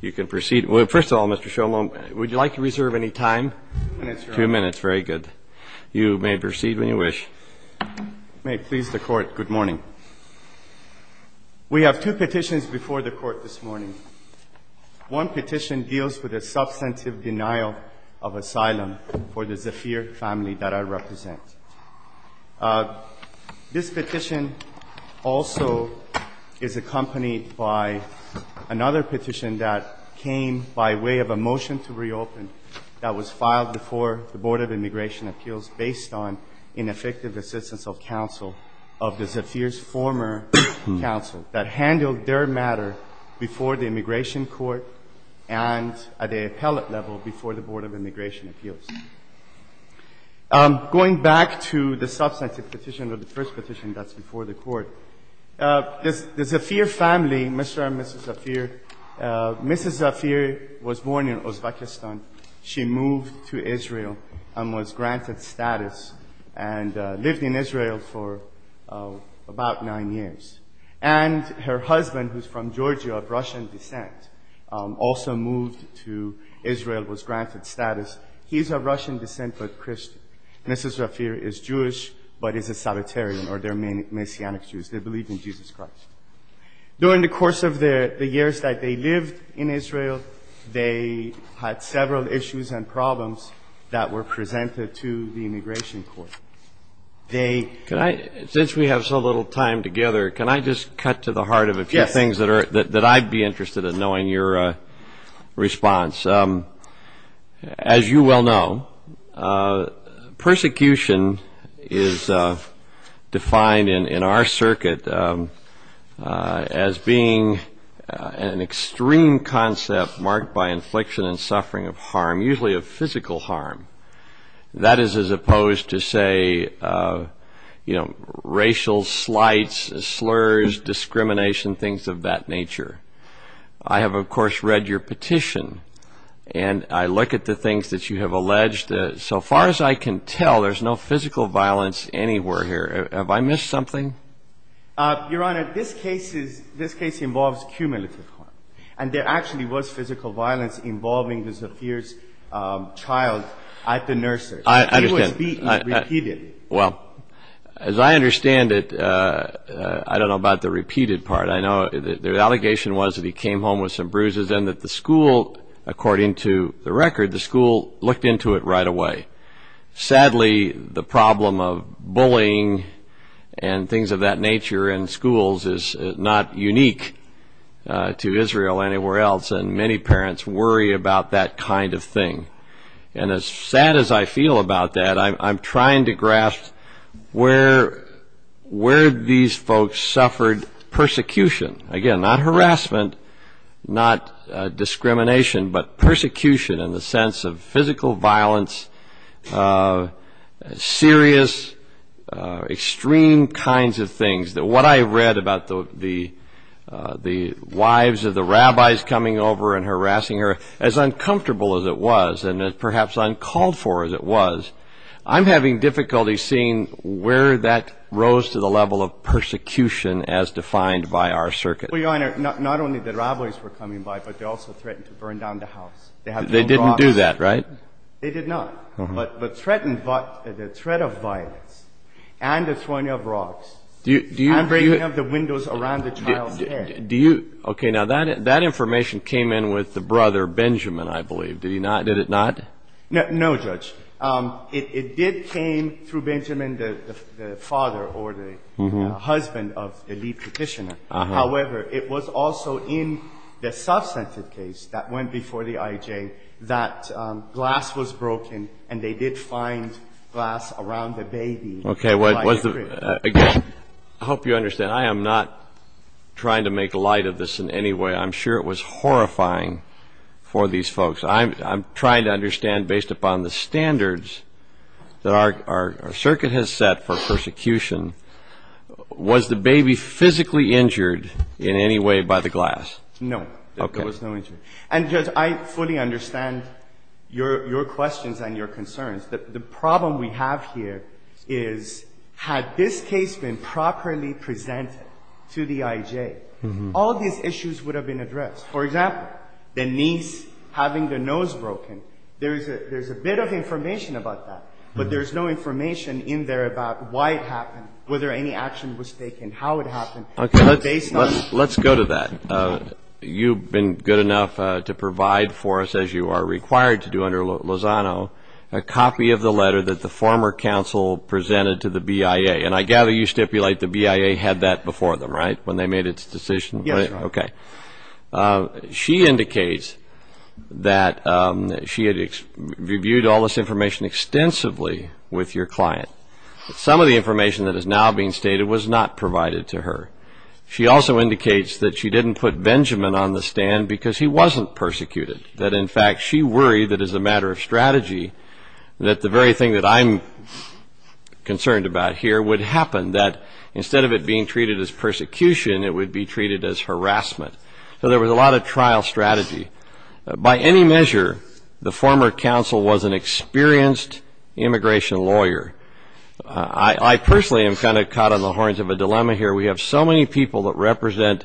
You can proceed. Well, first of all, Mr. Sholom, would you like to reserve any time? Two minutes, Your Honor. Two minutes, very good. You may proceed when you wish. May it please the court, good morning. We have two petitions before the court this morning. One petition deals with the substantive denial of asylum for the Zafir family that I represent. This petition also is accompanied by another petition that came by way of a motion to reopen that was filed before the Board of Immigration Appeals based on ineffective assistance of counsel of the Zafir's former counsel that handled their matter before the immigration court and at the appellate level before the Board of Immigration Appeals. I'm going back to the substantive petition of the first petition that's before the court. The Zafir family, Mr. and Mrs. Zafir, Mrs. Zafir was born in Uzbekistan. She moved to Israel and was granted status and lived in Israel for about nine years. And her husband, who's from Georgia of Russian descent, also moved to Israel, was granted status. He's of Russian descent, but Christian. Mrs. Zafir is Jewish, but is a Sabbatarian, or they're Messianic Jews. They believe in Jesus Christ. During the course of the years that they lived in Israel, they had several issues and problems that were presented to the immigration court. Since we have so little time together, can I just cut to the heart of a few things that I'd be interested in knowing your response? As you well know, persecution is defined in our circuit as being an extreme concept marked by infliction and suffering of harm, usually of physical harm. That is as opposed to, say, racial slights, slurs, discrimination, things of that nature. I have, of course, read your petition. And I look at the things that you have alleged. So far as I can tell, there's no physical violence anywhere here. Have I missed something? Your Honor, this case involves cumulative harm. And there actually was physical violence involving Mrs. Zafir's child at the nurses. I understand. She was beaten repeatedly. Well, as I understand it, I don't know about the repeated part. Their allegation was that he came home with some bruises and that the school, according to the record, the school looked into it right away. Sadly, the problem of bullying and things of that nature in schools is not unique to Israel or anywhere else. And many parents worry about that kind of thing. And as sad as I feel about that, I'm Again, not harassment, not discrimination, but persecution in the sense of physical violence, serious, extreme kinds of things that what I read about the wives of the rabbis coming over and harassing her, as uncomfortable as it was and perhaps uncalled for as it was, I'm having difficulty seeing where that rose to the level of persecution as defined by our circuit. Well, Your Honor, not only the rabbis were coming by, but they also threatened to burn down the house. They didn't do that, right? They did not, but the threat of violence and the throwing of rocks and breaking up the windows around the child's head. OK, now that information came in with the brother, Benjamin, I believe. Did it not? No, Judge. It did came through Benjamin, the father or the husband of the lead petitioner. However, it was also in the substantive case that went before the IJ that glass was broken and they did find glass around the baby. OK, I hope you understand. I am not trying to make light of this in any way. I'm sure it was horrifying for these folks. I'm trying to understand, based upon the standards that our circuit has set for persecution, was the baby physically injured in any way by the glass? No, there was no injury. And Judge, I fully understand your questions and your concerns. The problem we have here is, had this case been properly presented to the IJ, all these issues would have been addressed. For example, the niece having the nose broken, there's a bit of information about that. But there's no information in there about why it happened, whether any action was taken, how it happened. Let's go to that. You've been good enough to provide for us, as you are required to do under Lozano, a copy of the letter that the former counsel presented to the BIA. And I gather you stipulate the BIA had that before them, right, when they made its decision? Yes, Your Honor. OK. She indicates that she had reviewed all this information extensively with your client. Some of the information that is now being stated was not provided to her. She also indicates that she didn't put Benjamin on the stand because he wasn't persecuted. That in fact, she worried that as a matter of strategy, that the very thing that I'm concerned about here would happen. That instead of it being treated as persecution, it would be treated as harassment. So there was a lot of trial strategy. By any measure, the former counsel was an experienced immigration lawyer. I personally am kind of caught on the horns of a dilemma here. We have so many people that represent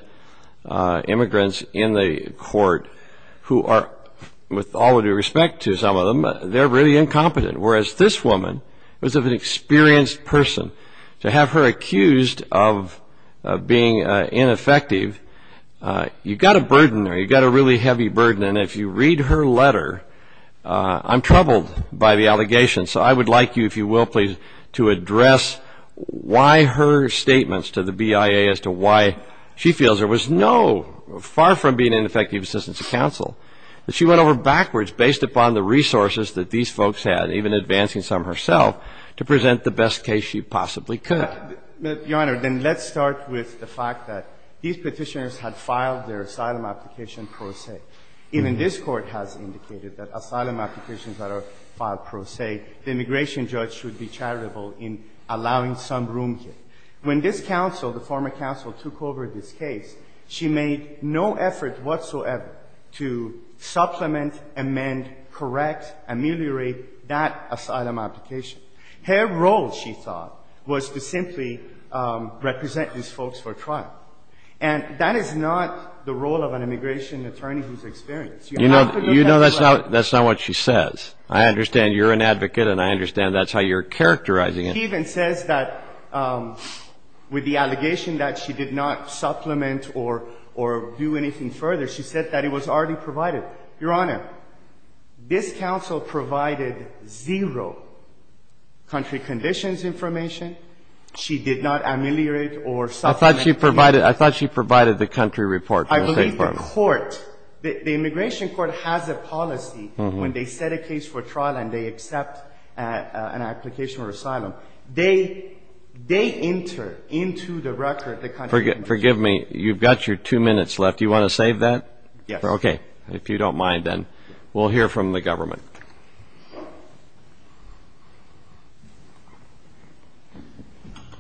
immigrants in the court who are, with all due respect to some of them, they're really incompetent. Whereas this woman was of an experienced person. To have her accused of being ineffective, you've got a burden there. You've got a really heavy burden. And if you read her letter, I'm troubled by the allegation. So I would like you, if you will please, to address why her statements to the BIA as to why she feels there was no, far from being ineffective assistance to counsel, that she went over backwards based upon the resources that these folks had, even advancing some herself, to present the best case she possibly could. Your Honor, then let's start with the fact that these Petitioners had filed their asylum application pro se. Even this Court has indicated that asylum applications that are filed pro se, the immigration judge should be charitable in allowing some room here. When this counsel, the former counsel, took over this case, she made no effort whatsoever to supplement, amend, correct, ameliorate that asylum application. Her role, she thought, was to simply represent these folks for trial. And that is not the role of an immigration attorney who's experienced. You have to look at the letter. That's not what she says. I understand you're an advocate, and I understand that's how you're characterizing it. She even says that with the allegation that she did not supplement or do anything further, she said that it was already provided. Your Honor, this counsel provided zero country conditions information. She did not ameliorate or supplement. I thought she provided the country report. I believe the court, the immigration court, has a policy when they set a case for trial and they accept an application for asylum. They enter into the record the country information. Forgive me, you've got your two minutes left. Do you want to save that? Yes. OK. If you don't mind, then we'll hear from the government.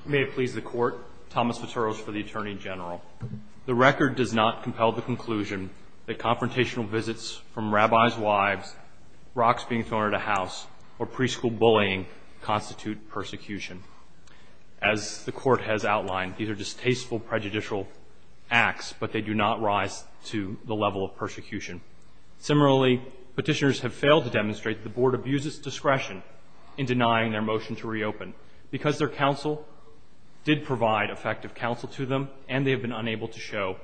May it please the court. Thomas Viteros for the Attorney General. The record does not compel the conclusion that confrontational visits from rabbis' wives, rocks being thrown at a house, or preschool bullying constitute persecution. As the court has outlined, these are distasteful, prejudicial acts, but they do not rise to the level of persecution. Similarly, petitioners have failed to demonstrate the board abuses discretion in denying their motion to reopen because their counsel did provide effective counsel to them and they have been unable to show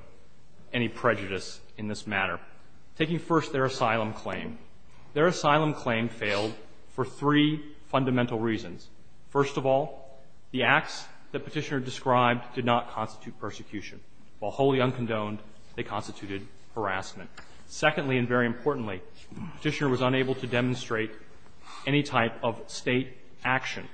any prejudice in this matter. Taking first their asylum claim, their asylum claim failed for three fundamental reasons. First of all, the acts the petitioner described did not constitute persecution. While wholly uncondoned, they constituted harassment. Secondly, and very importantly, the petitioner was unable to demonstrate any type of state action.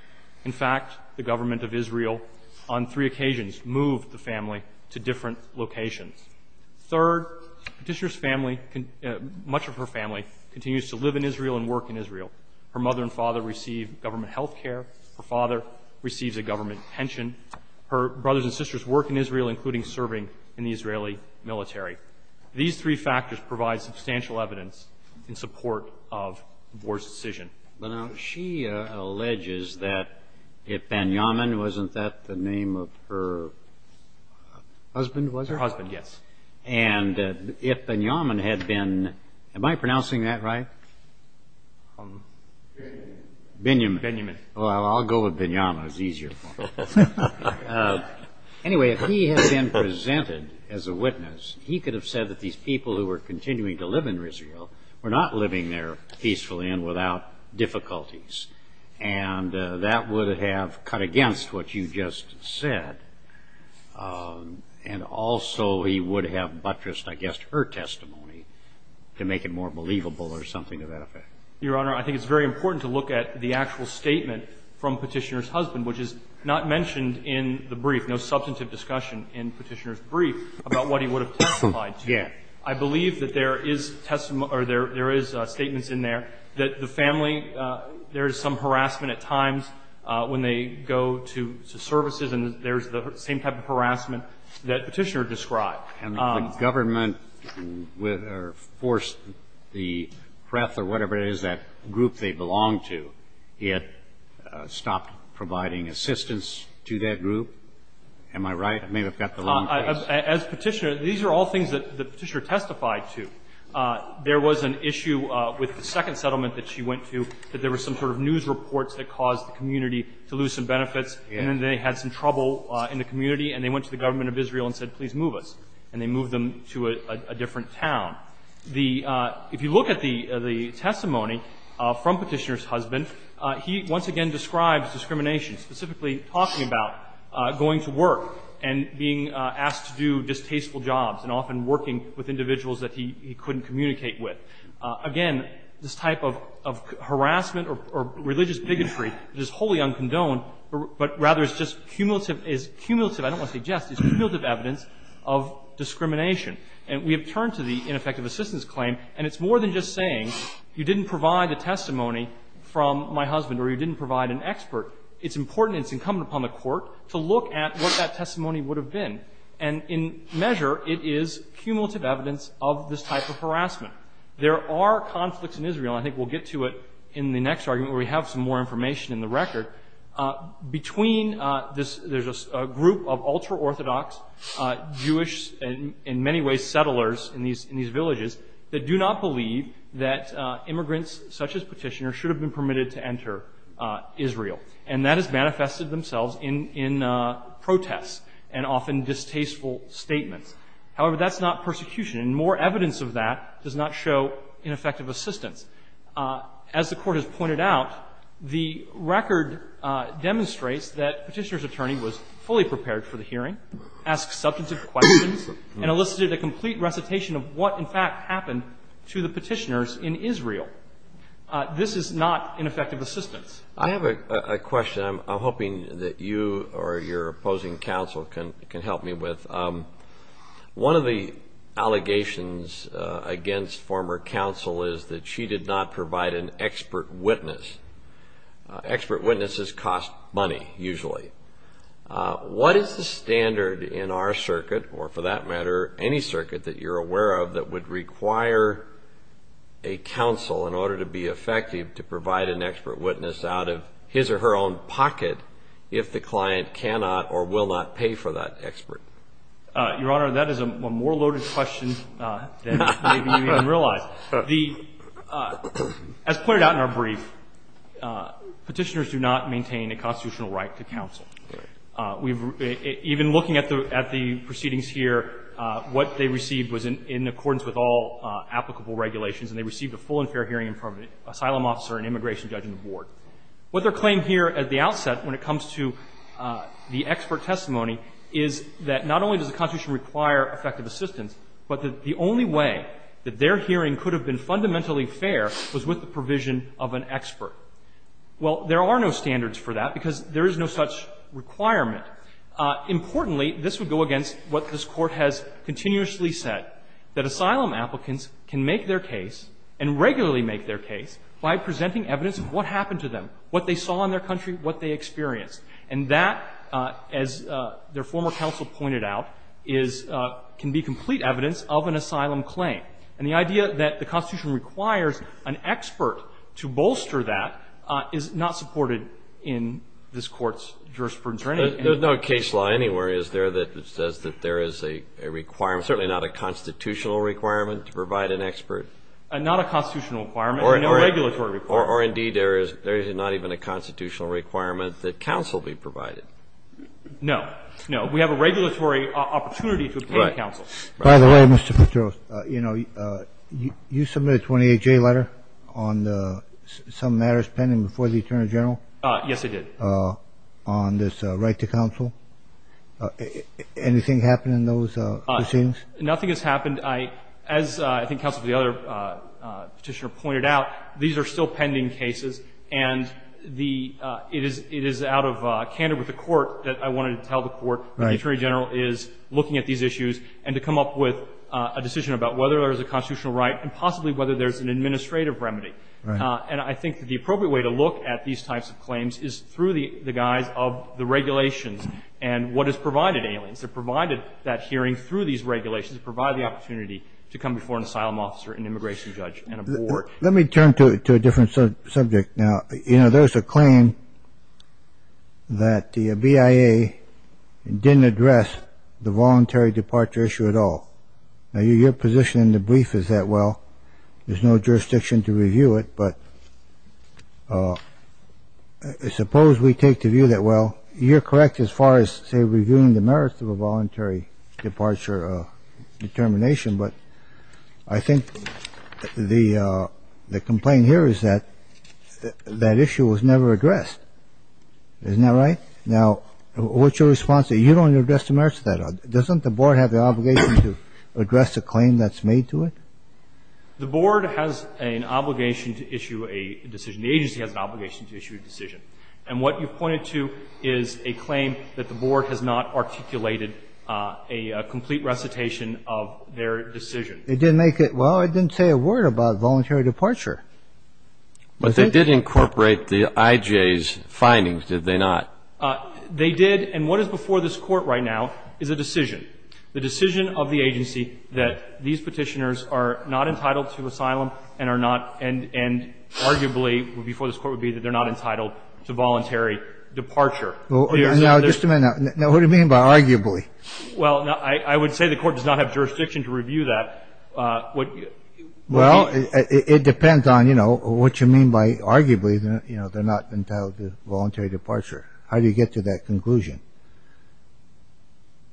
In fact, the government of Israel, on three occasions, moved the family to different locations. Third, the petitioner's family, much of her family, continues to live in Israel and work in Israel. Her mother and father receive government health care. Her father receives a government pension. Her brothers and sisters work in Israel, including serving in the Israeli military. These three factors provide substantial evidence in support of the board's decision. But now, she alleges that if Binyamin, wasn't that the name of her husband, was it? Her husband, yes. And if Binyamin had been, am I pronouncing that right? Binyamin. Binyamin. Well, I'll go with Binyamin. It's easier for me. Anyway, if he had been presented as a witness, he could have said that these people who were continuing to live in Israel were not living there peacefully and without difficulties. And that would have cut against what you just said. And also, he would have buttressed, I guess, her testimony to make it more believable or something of that effect. Your Honor, I think it's very important to look at the actual statement from Petitioner's husband, which is not mentioned in the brief, no substantive discussion in Petitioner's brief, about what he would have testified to. Yes. I believe that there is testimony or there is statements in there that the family, there is some harassment at times when they go to services, and there's the same type of harassment that Petitioner described. And the government forced the PrEP or whatever it is, that group they belong to. He had stopped providing assistance to that group. Am I right? I may have got the wrong place. As Petitioner, these are all things that Petitioner testified to. There was an issue with the second settlement that she went to that there were some sort of news reports that caused the community to lose some benefits. And then they had some trouble in the community. And they went to the government of Israel and said, please move us. And they moved them to a different town. If you look at the testimony from Petitioner's husband, he once again describes discrimination, specifically talking about going to work and being asked to do distasteful jobs and often working with individuals that he couldn't communicate with. Again, this type of harassment or religious bigotry is wholly uncondoned, but rather is just cumulative. It's cumulative. I don't want to say just. It's cumulative evidence of discrimination. And we have turned to the ineffective assistance claim. And it's more than just saying, you didn't provide a testimony from my husband or you didn't provide an expert. It's important and it's incumbent upon the court to look at what that testimony would have been. And in measure, it is cumulative evidence of this type of harassment. There are conflicts in Israel. I think we'll get to it in the next argument where we have some more information in the record. Between this, there's a group of ultra-Orthodox Jewish in many ways settlers in these villages that do not believe that immigrants such as Petitioner should have been permitted to enter Israel. And that has manifested themselves in protests and often distasteful statements. However, that's not persecution. And more evidence of that does not show ineffective assistance. As the court has pointed out, the record demonstrates that Petitioner's attorney was fully and elicited a complete recitation of what, in fact, happened to the Petitioners in Israel. This is not ineffective assistance. I have a question I'm hoping that you or your opposing counsel can help me with. One of the allegations against former counsel is that she did not provide an expert witness. Expert witnesses cost money, usually. What is the standard in our circuit, or for that matter, any circuit that you're aware of that would require a counsel in order to be effective to provide an expert witness out of his or her own pocket if the client cannot or will not pay for that expert? Your Honor, that is a more loaded question than maybe you even realize. As pointed out in our brief, Petitioners do not maintain a constitutional right to counsel. Even looking at the proceedings here, what they received was in accordance with all applicable regulations, and they received a full and fair hearing in front of an asylum officer and immigration judge on the board. What they're claiming here at the outset when it comes to the expert testimony is that not only does the Constitution require effective assistance, but that the only way that their hearing could have been fundamentally fair was with the provision of an expert. Well, there are no standards for that, because there is no such requirement. Importantly, this would go against what this Court has continuously said, that asylum applicants can make their case and regularly make their case by presenting evidence of what happened to them, what they saw in their country, what they experienced. And that, as their former counsel pointed out, is can be complete evidence of an asylum claim. And the idea that the Constitution requires an expert to bolster that is not supported in this Court's jurisprudence or anything. There's no case law anywhere, is there, that says that there is a requirement, certainly not a constitutional requirement, to provide an expert? Not a constitutional requirement, no regulatory requirement. Or indeed, there is not even a constitutional requirement that counsel be provided. No, no. We have a regulatory opportunity to obtain counsel. By the way, Mr. Petros, you submitted a 28-J letter on some matters pending before the Attorney General. Yes, I did. On this right to counsel. Anything happen in those proceedings? Nothing has happened. As I think counsel for the other petitioner pointed out, these are still pending cases. And it is out of candor with the Court that I wanted to tell the Court that the Attorney General is looking at these issues and to come up with a decision about whether there is a constitutional right and possibly whether there's an administrative remedy. And I think the appropriate way to look at these types of claims is through the guise of the regulations and what is provided to aliens. They're provided that hearing through these regulations provide the opportunity to come before an asylum officer, an immigration judge, and a board. Let me turn to a different subject now. There's a claim that the BIA didn't address the voluntary departure issue at all. Now, your position in the brief is that, well, there's no jurisdiction to review it. But suppose we take the view that, well, you're correct as far as, say, reviewing the merits of a voluntary departure determination. But I think the complaint here is that that issue was never addressed. Isn't that right? You don't address the merits of that. Doesn't the board have the obligation to address a claim that's made to it? The board has an obligation to issue a decision. The agency has an obligation to issue a decision. And what you pointed to is a claim that the board has not articulated a complete recitation of their decision. It didn't make it. Well, it didn't say a word about voluntary departure. But they did incorporate the IJ's findings, did they not? They did. And what is before this court right now is a decision, the decision of the agency that these Petitioners are not entitled to asylum and are not, and arguably, before this court would be, that they're not entitled to voluntary departure. Well, now, just a minute. Now, what do you mean by arguably? Well, I would say the court does not have jurisdiction to review that. Well, it depends on what you mean by arguably they're not entitled to voluntary departure. How do you get to that conclusion?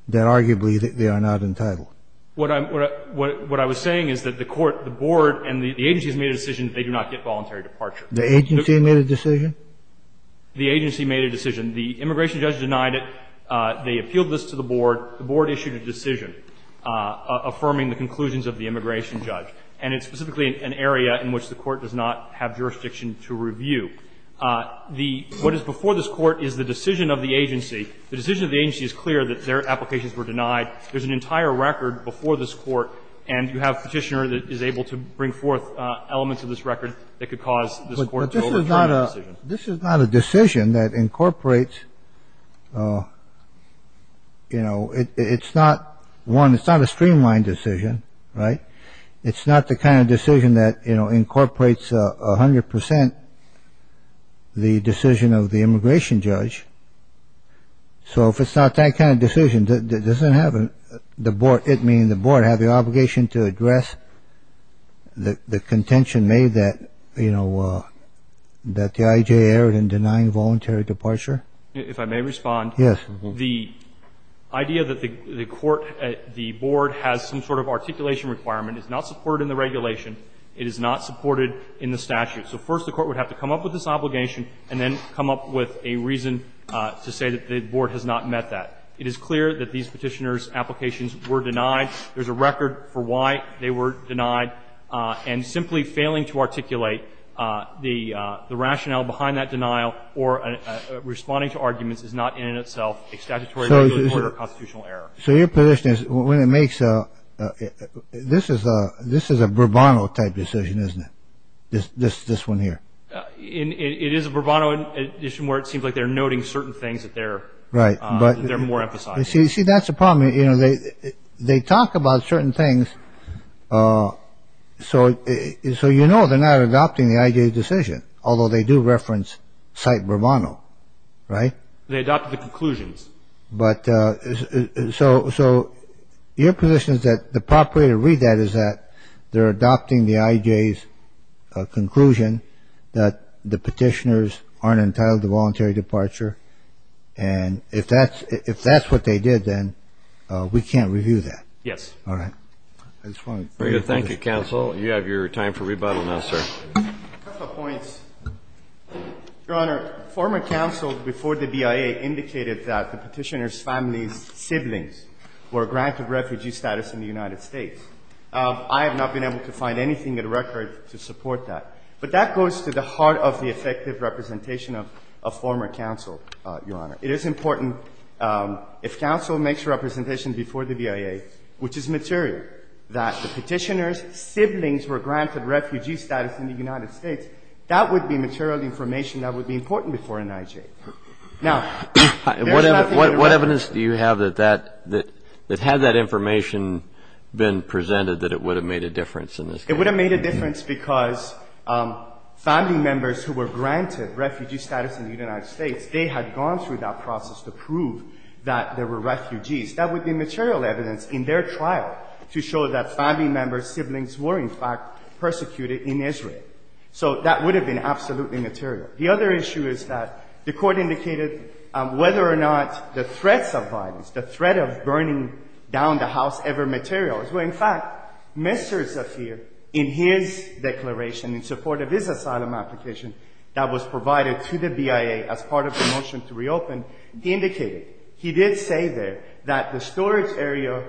That arguably they are not entitled. What I'm, what I was saying is that the court, the board, and the agency has made a decision that they do not get voluntary departure. The agency made a decision? The agency made a decision. The immigration judge denied it. They appealed this to the board. The board issued a decision affirming the conclusions of the immigration judge. And it's specifically an area in which the court does not have jurisdiction to review. The, what is before this court is the decision of the agency. The decision of the agency is clear that their applications were denied. There's an entire record before this court. And you have a petitioner that is able to bring forth elements of this record that could cause this court to overturn the decision. This is not a decision that incorporates, you know, it's not one, it's not a streamlined decision, right? It's not the kind of decision that, you know, incorporates 100% the decision of the immigration judge. So if it's not that kind of decision, it doesn't have the board, it meaning the board, have the obligation to address the contention made that, you know, that the IJ erred in denying voluntary departure? If I may respond. Yes. The idea that the court, the board has some sort of articulation requirement is not supported in the regulation. It is not supported in the statute. So first the court would have to come up with this obligation and then come up with a reason to say that the board has not met that. It is clear that these petitioners' applications were denied. There's a record for why they were denied. And simply failing to articulate the rationale behind that denial or responding to arguments is not in itself a statutory or constitutional error. So your position is, when it makes a, this is a Bourbon type decision, isn't it? This one here. It is a Bourbon edition where it seems like they're noting certain things that they're more emphasizing. See, that's the problem. They talk about certain things, so you know they're not adopting the IJ's decision, although they do reference Site Bourbon, right? They adopted the conclusions. But so your position is that the proper way to read that is that they're adopting the IJ's conclusion that the petitioners aren't entitled to voluntary departure. And if that's what they did, then we can't review that. Yes. All right. I just wanted to thank you. Thank you, counsel. You have your time for rebuttal now, sir. A couple of points. Your Honor, former counsel before the BIA indicated that the petitioner's family's siblings were granted refugee status in the United States. I have not been able to find anything in the record to support that. But that goes to the heart of the effective representation of a former counsel, Your Honor. It is important, if counsel makes a representation before the BIA, which is material, that the petitioner's siblings were granted refugee status in the United States, that would be material information that would be important before an IJ. Now, there's nothing in the record. Do you have that, had that information been presented, that it would have made a difference in this case? It would have made a difference because family members who were granted refugee status in the United States, they had gone through that process to prove that they were refugees. That would be material evidence in their trial to show that family members' siblings were, in fact, persecuted in Israel. So that would have been absolutely material. The other issue is that the court indicated whether or not the threats of violence, the threat of burning down the house ever material, is where, in fact, Mr. Zafir, in his declaration in support of his asylum application that was provided to the BIA as part of the motion to reopen, indicated, he did say there, that the storage area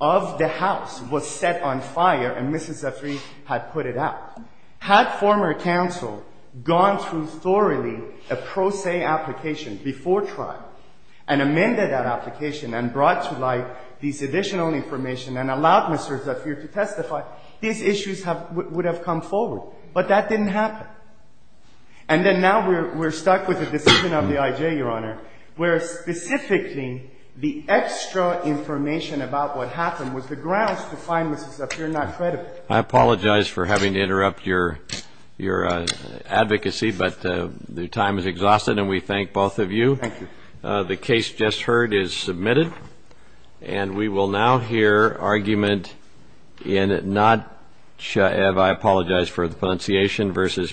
of the house was set on fire, and Mrs. Zafir had put it out. Had former counsel gone through thoroughly a pro se application before trial and amended that application and brought to light these additional information and allowed Mr. Zafir to testify, these issues would have come forward. But that didn't happen. And then now we're stuck with the decision of the IJ, Your Honor, where specifically the extra information about what happened was the grounds to find Mrs. Zafir not credible. I apologize for having to interrupt your advocacy, but the time is exhausted. And we thank both of you. Thank you. The case just heard is submitted. And we will now hear argument in Notchev, I apologize for the pronunciation, versus Mukasey.